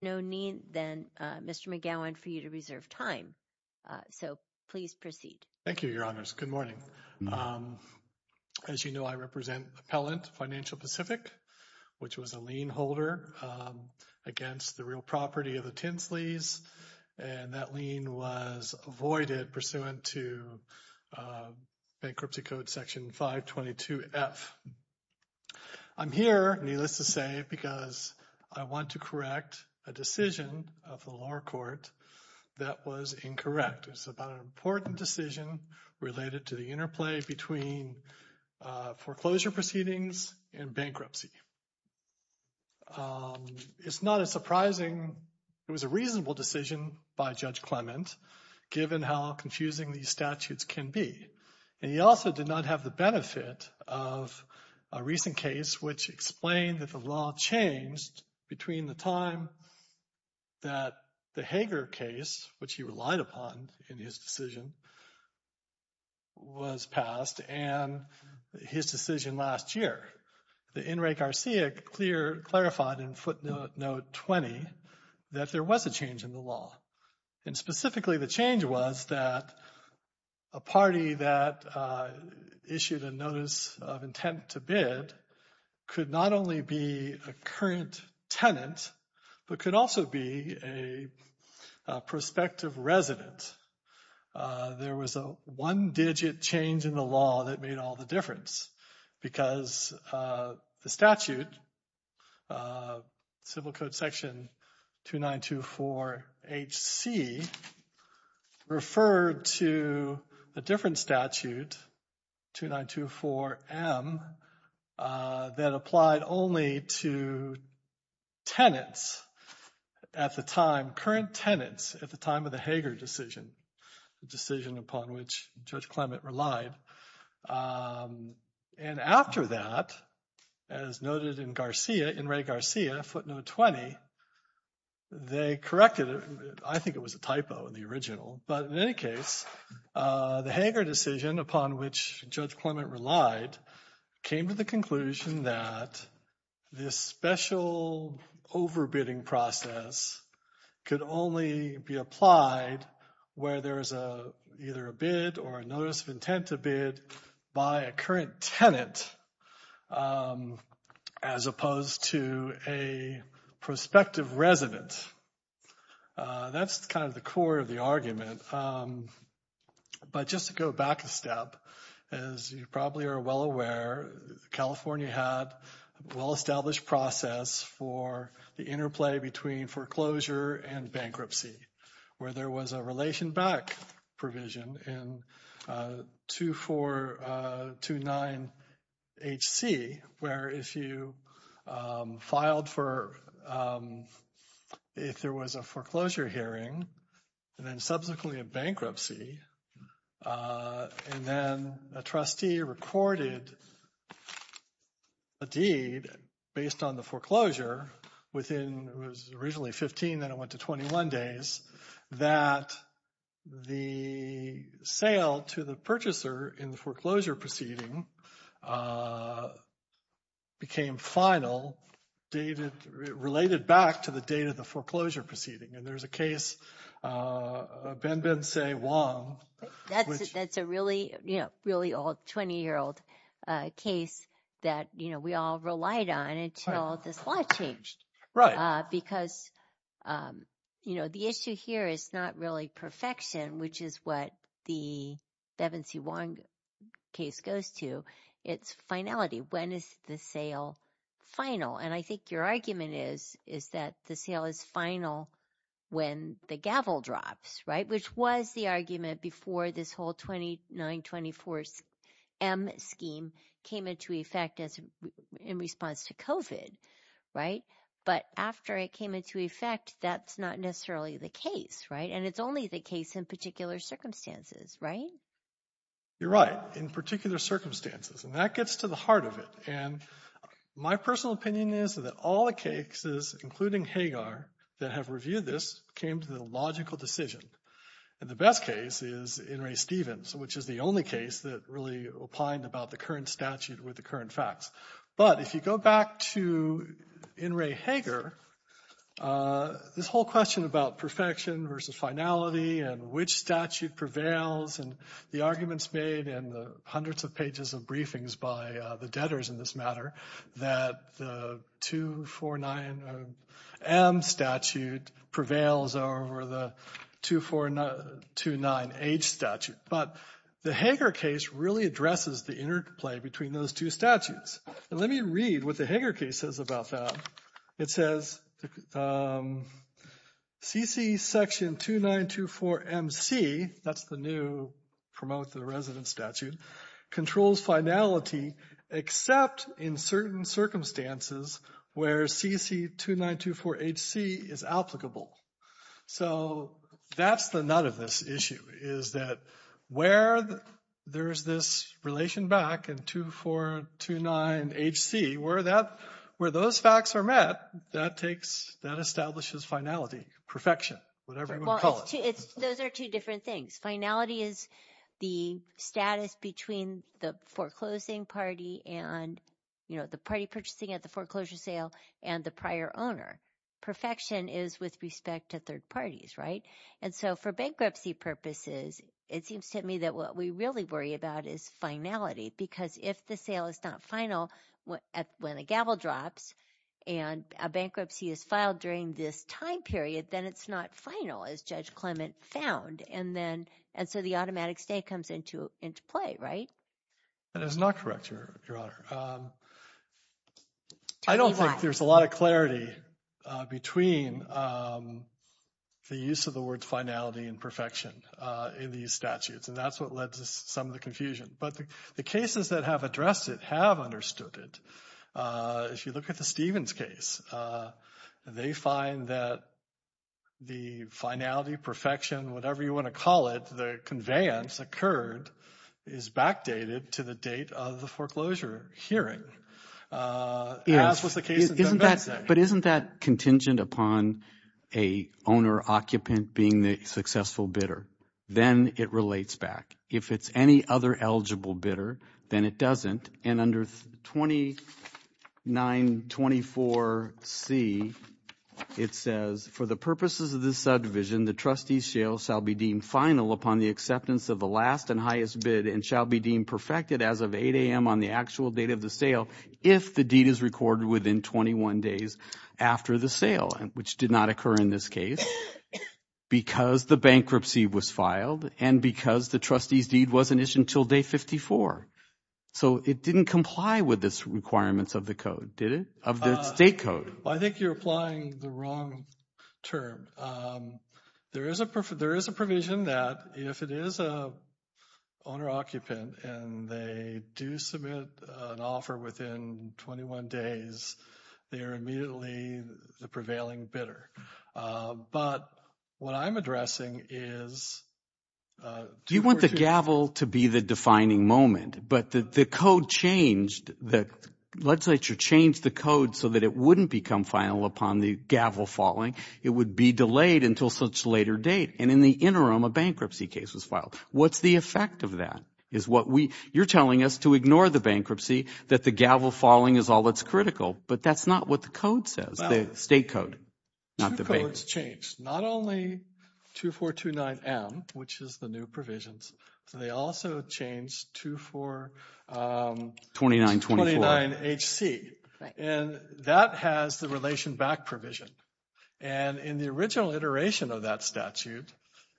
No need then Mr McGowan for you to reserve time. So please proceed. Thank you. Your Honors. Good morning, as you know, I represent appellant Financial Pacific, which was a lien holder against the real property of the Tinsley's and that lien was avoided pursuant to bankruptcy code section 522 F. I'm here needless to say because I want to correct a decision of the lower court that was incorrect. It's about an important decision related to the interplay between foreclosure proceedings and bankruptcy. It's not as surprising. It was a reasonable decision by Judge Clement given how confusing these statutes can be. He also did not have the benefit of a recent case, which explained that the law changed between the time. That the Hager case which he relied upon in his decision. Was passed and his decision last year the in Ray Garcia clear clarified in footnote note 20 that there was a change in the and specifically the change was that a party that issued a notice of intent to bid could not only be a current tenant, but could also be a prospective resident. There was a one digit change in the law that made all the difference because the statute civil code section 2924 HC referred to a different statute 2924 M that applied only to tenants at the time current tenants at the time of the Hager decision decision upon which Judge Clement relied. And after that as noted in Garcia in Ray Garcia footnote 20. They corrected it. I think it was a typo in the original but in any case the Hager decision upon which Judge Clement relied came to the conclusion that this special over bidding process could only be applied where there is a either a bid or notice of intent to bid by a tenant as opposed to a prospective resident. That's kind of the core of the argument, but just to go back a step as you probably are well aware California had well-established process for the interplay between foreclosure and bankruptcy where there was a relation back provision in 2429 HC where if you filed for if there was a foreclosure hearing and then subsequently a bankruptcy and then a trustee recorded a deed based on the within was originally 15 that I went to 21 days that the sale to the purchaser in the foreclosure proceeding. Became final dated related back to the date of the foreclosure proceeding and there's a case been been say Wong that's a really you know, really old 20 year old case that you know, we all relied on until this law changed right because you know, the issue here is not really perfection, which is what the Bevin see one case goes to its finality. When is the sale final? And I think your argument is is that the sale is final when the gavel drops, right? Which was the argument before this whole 29 24th M scheme came into effect as in response to covid right, but after it came into effect, that's not necessarily the case right and it's only the case in particular circumstances, right? You're right in particular circumstances and that gets to the heart of it. And my personal opinion is that all the cases including Hagar that have reviewed this came to the logical decision and the best case is in Ray Stevens, which is the only case that really opined about the current statute with the current facts. But if you go back to in Ray Hagar, this whole question about perfection versus finality and which statute prevails and the arguments made in the hundreds of pages of briefings by the debtors in this matter that the 249 M statute prevails over the 249 age statute, but the Hagar case really addresses the interplay between those two statutes. Let me read with the Hagar cases about that. It says CC section 2924 MC. That's the new promote the resident statute controls finality except in certain circumstances where CC 2924 HC is applicable. So that's the nut of this issue is that where there's this relation back and 2429 HC where that where those facts are met that takes that establishes finality perfection, whatever you call it. It's those are two different things. Finality is the status between the foreclosing party and you know, the party purchasing at the foreclosure sale and the prior owner Perfection is with respect to third parties, right? And so for bankruptcy purposes, it seems to me that what we really worry about is finality because if the sale is not final when a gavel drops and a bankruptcy is filed during this time period, then it's not final as Judge Clement found and then and so the automatic stay comes into into play, right? That is not correct, your honor. I don't think there's a lot of clarity between the use of the words finality and perfection in these statutes and that's what led to some of the confusion but the cases that have addressed it have understood it. If you look at the Stevens case, they find that the finality perfection whatever you want to call it the conveyance occurred is backdated to the date of the foreclosure hearing. But isn't that contingent upon a owner occupant being the successful bidder? Then it relates back. If it's any other eligible bidder, then it doesn't and under 2924 C, it says for the purposes of this subdivision, the trustees sale shall be deemed final upon the acceptance of the last and highest bid and shall be deemed perfected as of 8 a.m. on the actual date of the sale if the deed is recorded within 21 days after the sale and which did not occur in this case because the bankruptcy was filed and because the trustees deed wasn't issued until day 54. So it didn't comply with this requirements of the code, did it? Of the state code. I think you're applying the wrong term. There is a provision that if it is an owner occupant and they do submit an offer within 21 days, they are immediately the prevailing bidder. But what I'm addressing is, you want the gavel to be the defining moment, but the code changed, the legislature changed the code so that it wouldn't become final upon the gavel falling. It would be delayed until such later date and in the interim, a bankruptcy case was filed. What's the effect of that? Is what we, you're telling us to ignore the bankruptcy that the gavel falling is all that's critical, but that's not what the code says. The state code. Not the bank. It's changed. Not only 2429 M, which is the new provisions. They also changed 2429 H C and that has the relation back provision. And in the original iteration of that statute,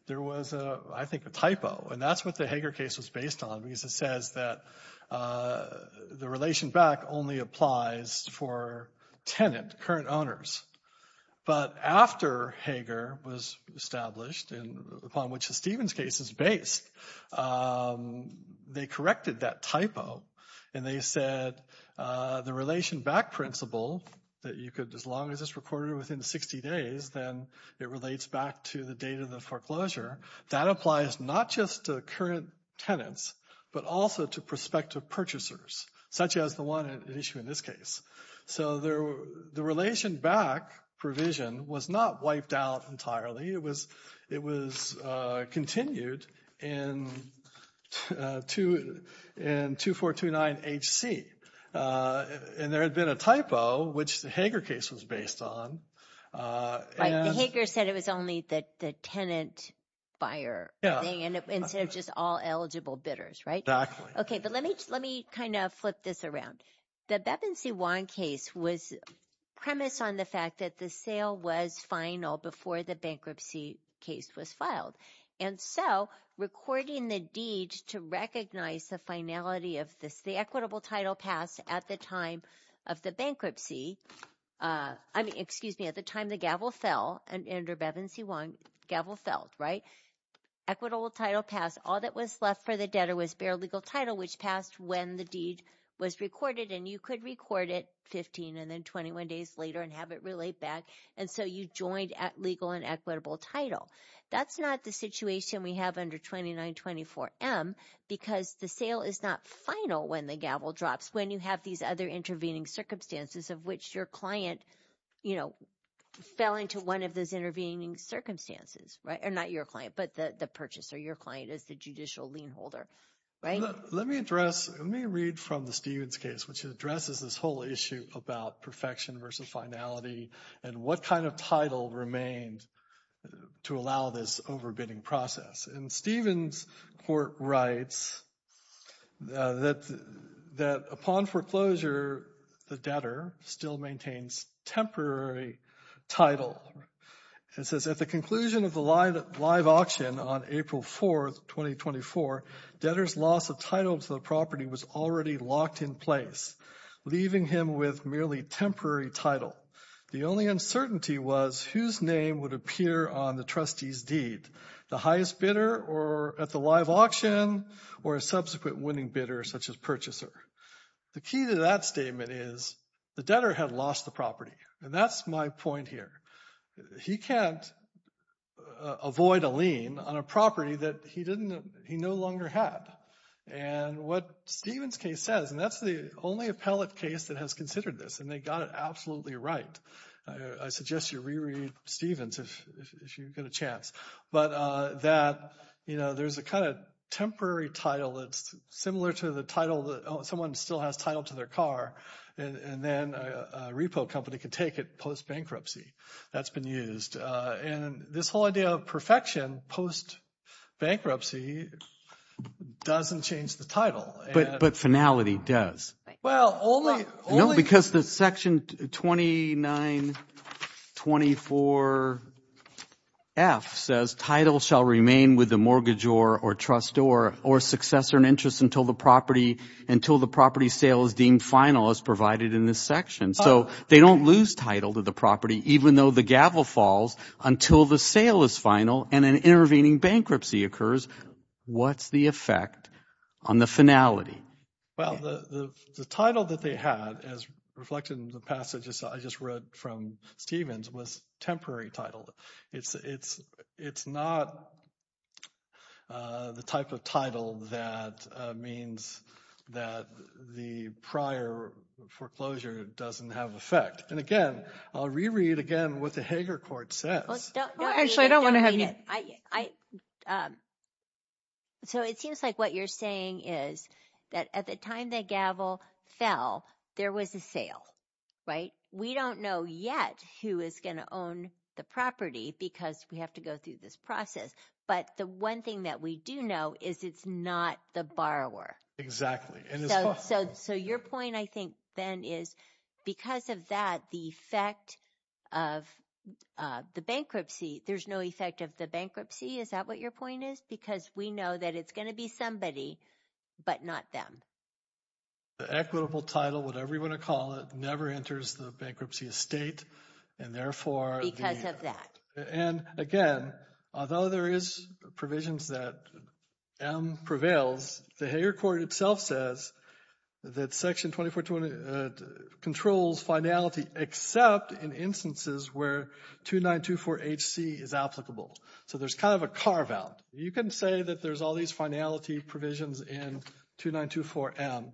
there was a, I think a typo and that's what the Hager case was based on because it says that the relation back only applies for tenant, current owners. But after Hager was established and upon which the Stevens case is based, they corrected that typo and they said the relation back principle that you could, as long as it's recorded within 60 days, then it relates back to the date of the foreclosure. That applies not just to current tenants, but also to prospective purchasers, such as the one at issue in this case. So there, the relation back provision was not wiped out entirely. It was, it was continued in 2429 H C. And there had been a typo, which the Hager case was based on. The Hager said it was only that the tenant buyer instead of just all eligible bidders, right? Okay. But let me, let me kind of flip this around. The Bevin C1 case was premise on the fact that the sale was final before the bankruptcy case was filed. And so recording the deed to recognize the finality of this, the equitable title passed at the time of the bankruptcy. I mean, excuse me at the time, the gavel fell and under Bevin C1 gavel felt right equitable title pass. All that was left for the debtor was bare legal title, which passed when the deed was recorded and you could record it 15 and then 21 days later and have it relate back. And so you joined at legal and equitable title. That's not the situation we have under 2924 M because the sale is not final when the gavel drops, when you have these other intervening circumstances of which your client, you know, fell into one of those intervening circumstances, right? Or not your client, but the purchaser, your client is the judicial lien holder, right? Let me address, let me read from the Stevens case, which addresses this whole issue about perfection versus finality and what kind of title remained to allow this overbidding process. And Stevens Court writes that upon foreclosure, the debtor still maintains temporary title. It says, at the conclusion of the live auction on April 4, 2024, debtor's loss of title to the property was already locked in place, leaving him with merely temporary title. The only uncertainty was whose name would appear on the trustee's deed. The highest bidder or at the live auction or a subsequent winning bidder such as purchaser. The key to that statement is the debtor had lost the property. And that's my point here. He can't avoid a lien on a property that he no longer had. And what Stevens case says, and that's the only appellate case that has considered this, and they got it absolutely right. I suggest you reread Stevens if you get a chance. But that, you know, there's a kind of temporary title that's similar to the title that someone still has title to their car and then a repo company can take it post-bankruptcy. That's been used. And this whole idea of perfection post-bankruptcy doesn't change the title. But finality does. Well, only… No, because the section 2924F says, title shall remain with the mortgage or trust or successor and interest until the property sale is deemed final as provided in this section. So they don't lose title to the property even though the gavel falls until the sale is final and an intervening bankruptcy occurs. What's the effect on the finality? Well, the title that they had as reflected in the passages I just wrote from Stevens was temporary title. It's not the type of title that means that the prior foreclosure doesn't have effect. And again, I'll reread again what the Hager court says. Actually, I don't want to have you… So it seems like what you're saying is that at the time the gavel fell, there was a sale, right? We don't know yet who is going to own the property because we have to go through this process. But the one thing that we do know is it's not the borrower. Exactly. So your point, I think, Ben, is because of that, the effect of the bankruptcy, there's no effect of the bankruptcy. Is that what your point is? Because we know that it's going to be somebody but not them. The equitable title, whatever you want to call it, never enters the bankruptcy estate and therefore… Because of that. And again, although there is provisions that M prevails, the Hager court itself says that Section 2420 controls finality except in instances where 2924HC is applicable. So there's kind of a carve-out. You can say that there's all these finality provisions in 2924M,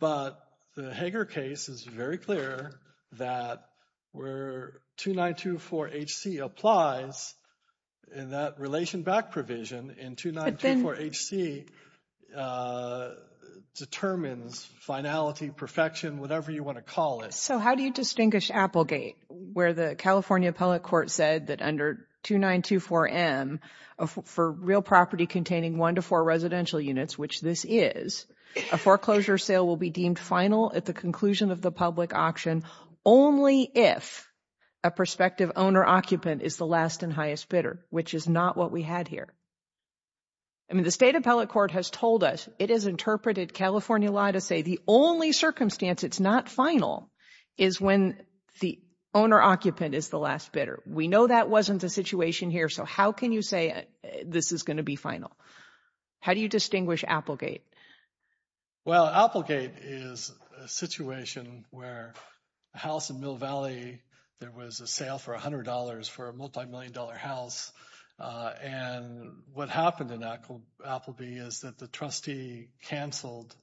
but the Hager case is very clear that where 2924HC applies, and that relation back provision in 2924HC determines finality, perfection, whatever you want to call it. So how do you distinguish Applegate, where the California appellate court said that under 2924M, for real property containing one to four residential units, which this is, a foreclosure sale will be deemed final at the conclusion of the public auction only if a prospective owner-occupant is the last and highest bidder, which is not what we had here. I mean, the state appellate court has told us, it has interpreted California law to say the only circumstance it's not final is when the owner-occupant is the last bidder. We know that wasn't the situation here. So how can you say this is going to be final? How do you distinguish Applegate? Well, Applegate is a situation where a house in Mill Valley, there was a sale for $100 for a multimillion-dollar house. And what happened in Appleby is that the trustee canceled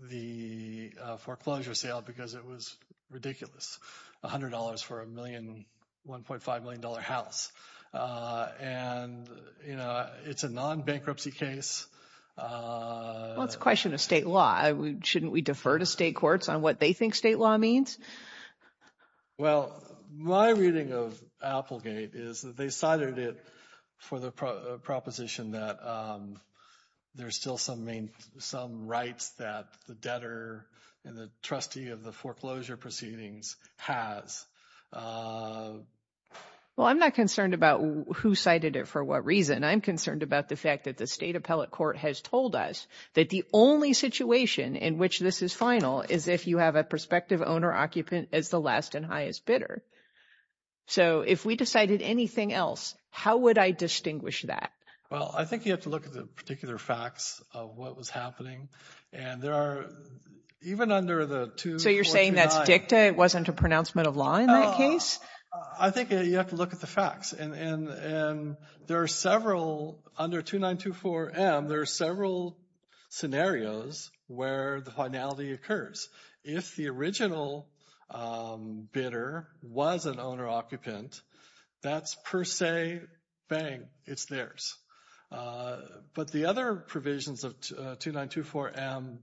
the foreclosure sale because it was ridiculous, $100 for a $1.5 million house. And, you know, it's a non-bankruptcy case. Well, it's a question of state law. Shouldn't we defer to state courts on what they think state law means? Well, my reading of Applegate is that they cited it for the proposition that there's still some rights that the debtor and the trustee of the foreclosure proceedings has. Well, I'm not concerned about who cited it for what reason. I'm concerned about the fact that the state appellate court has told us that the only situation in which this is final is if you have a prospective owner-occupant as the last and highest bidder. So if we decided anything else, how would I distinguish that? Well, I think you have to look at the particular facts of what was happening. And there are, even under the 249. So you're saying that's dicta? It wasn't a pronouncement of law in that case? I think you have to look at the facts. And there are several, under 2924M, there are several scenarios where the finality occurs. If the original bidder was an owner-occupant, that's per se, bang, it's theirs. But the other provisions of 2924M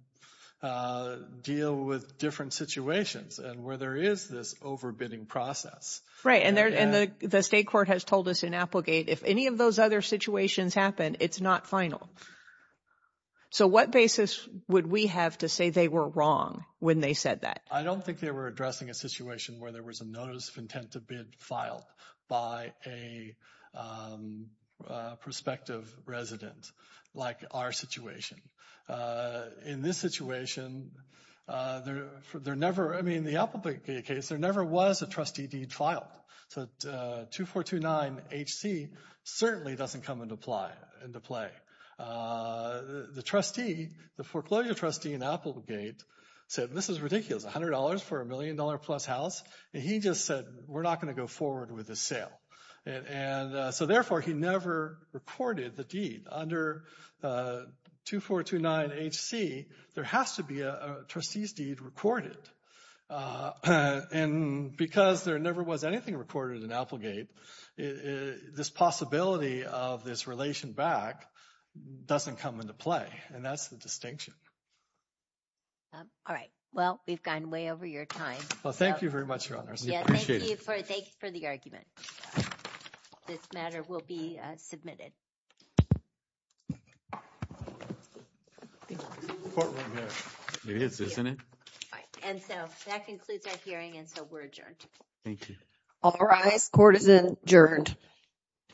deal with different situations and where there is this overbidding process. Right, and the state court has told us in Applegate if any of those other situations happen, it's not final. So what basis would we have to say they were wrong when they said that? I don't think they were addressing a situation where there was a notice of intent to bid filed by a prospective resident like our situation. In this situation, there never, I mean, in the Applegate case, there never was a trustee deed filed. So 2429HC certainly doesn't come into play. The trustee, the foreclosure trustee in Applegate said, this is ridiculous, $100 for a million-dollar-plus house? And he just said, we're not going to go forward with this sale. And so therefore, he never recorded the deed. Under 2429HC, there has to be a trustee's deed recorded. And because there never was anything recorded in Applegate, this possibility of this relation back doesn't come into play. And that's the distinction. All right. Well, we've gone way over your time. Well, thank you very much, Your Honors. We appreciate it. Thank you for the argument. This matter will be submitted. It is, isn't it? And so that concludes our hearing, and so we're adjourned. Thank you. All rise. Court is adjourned.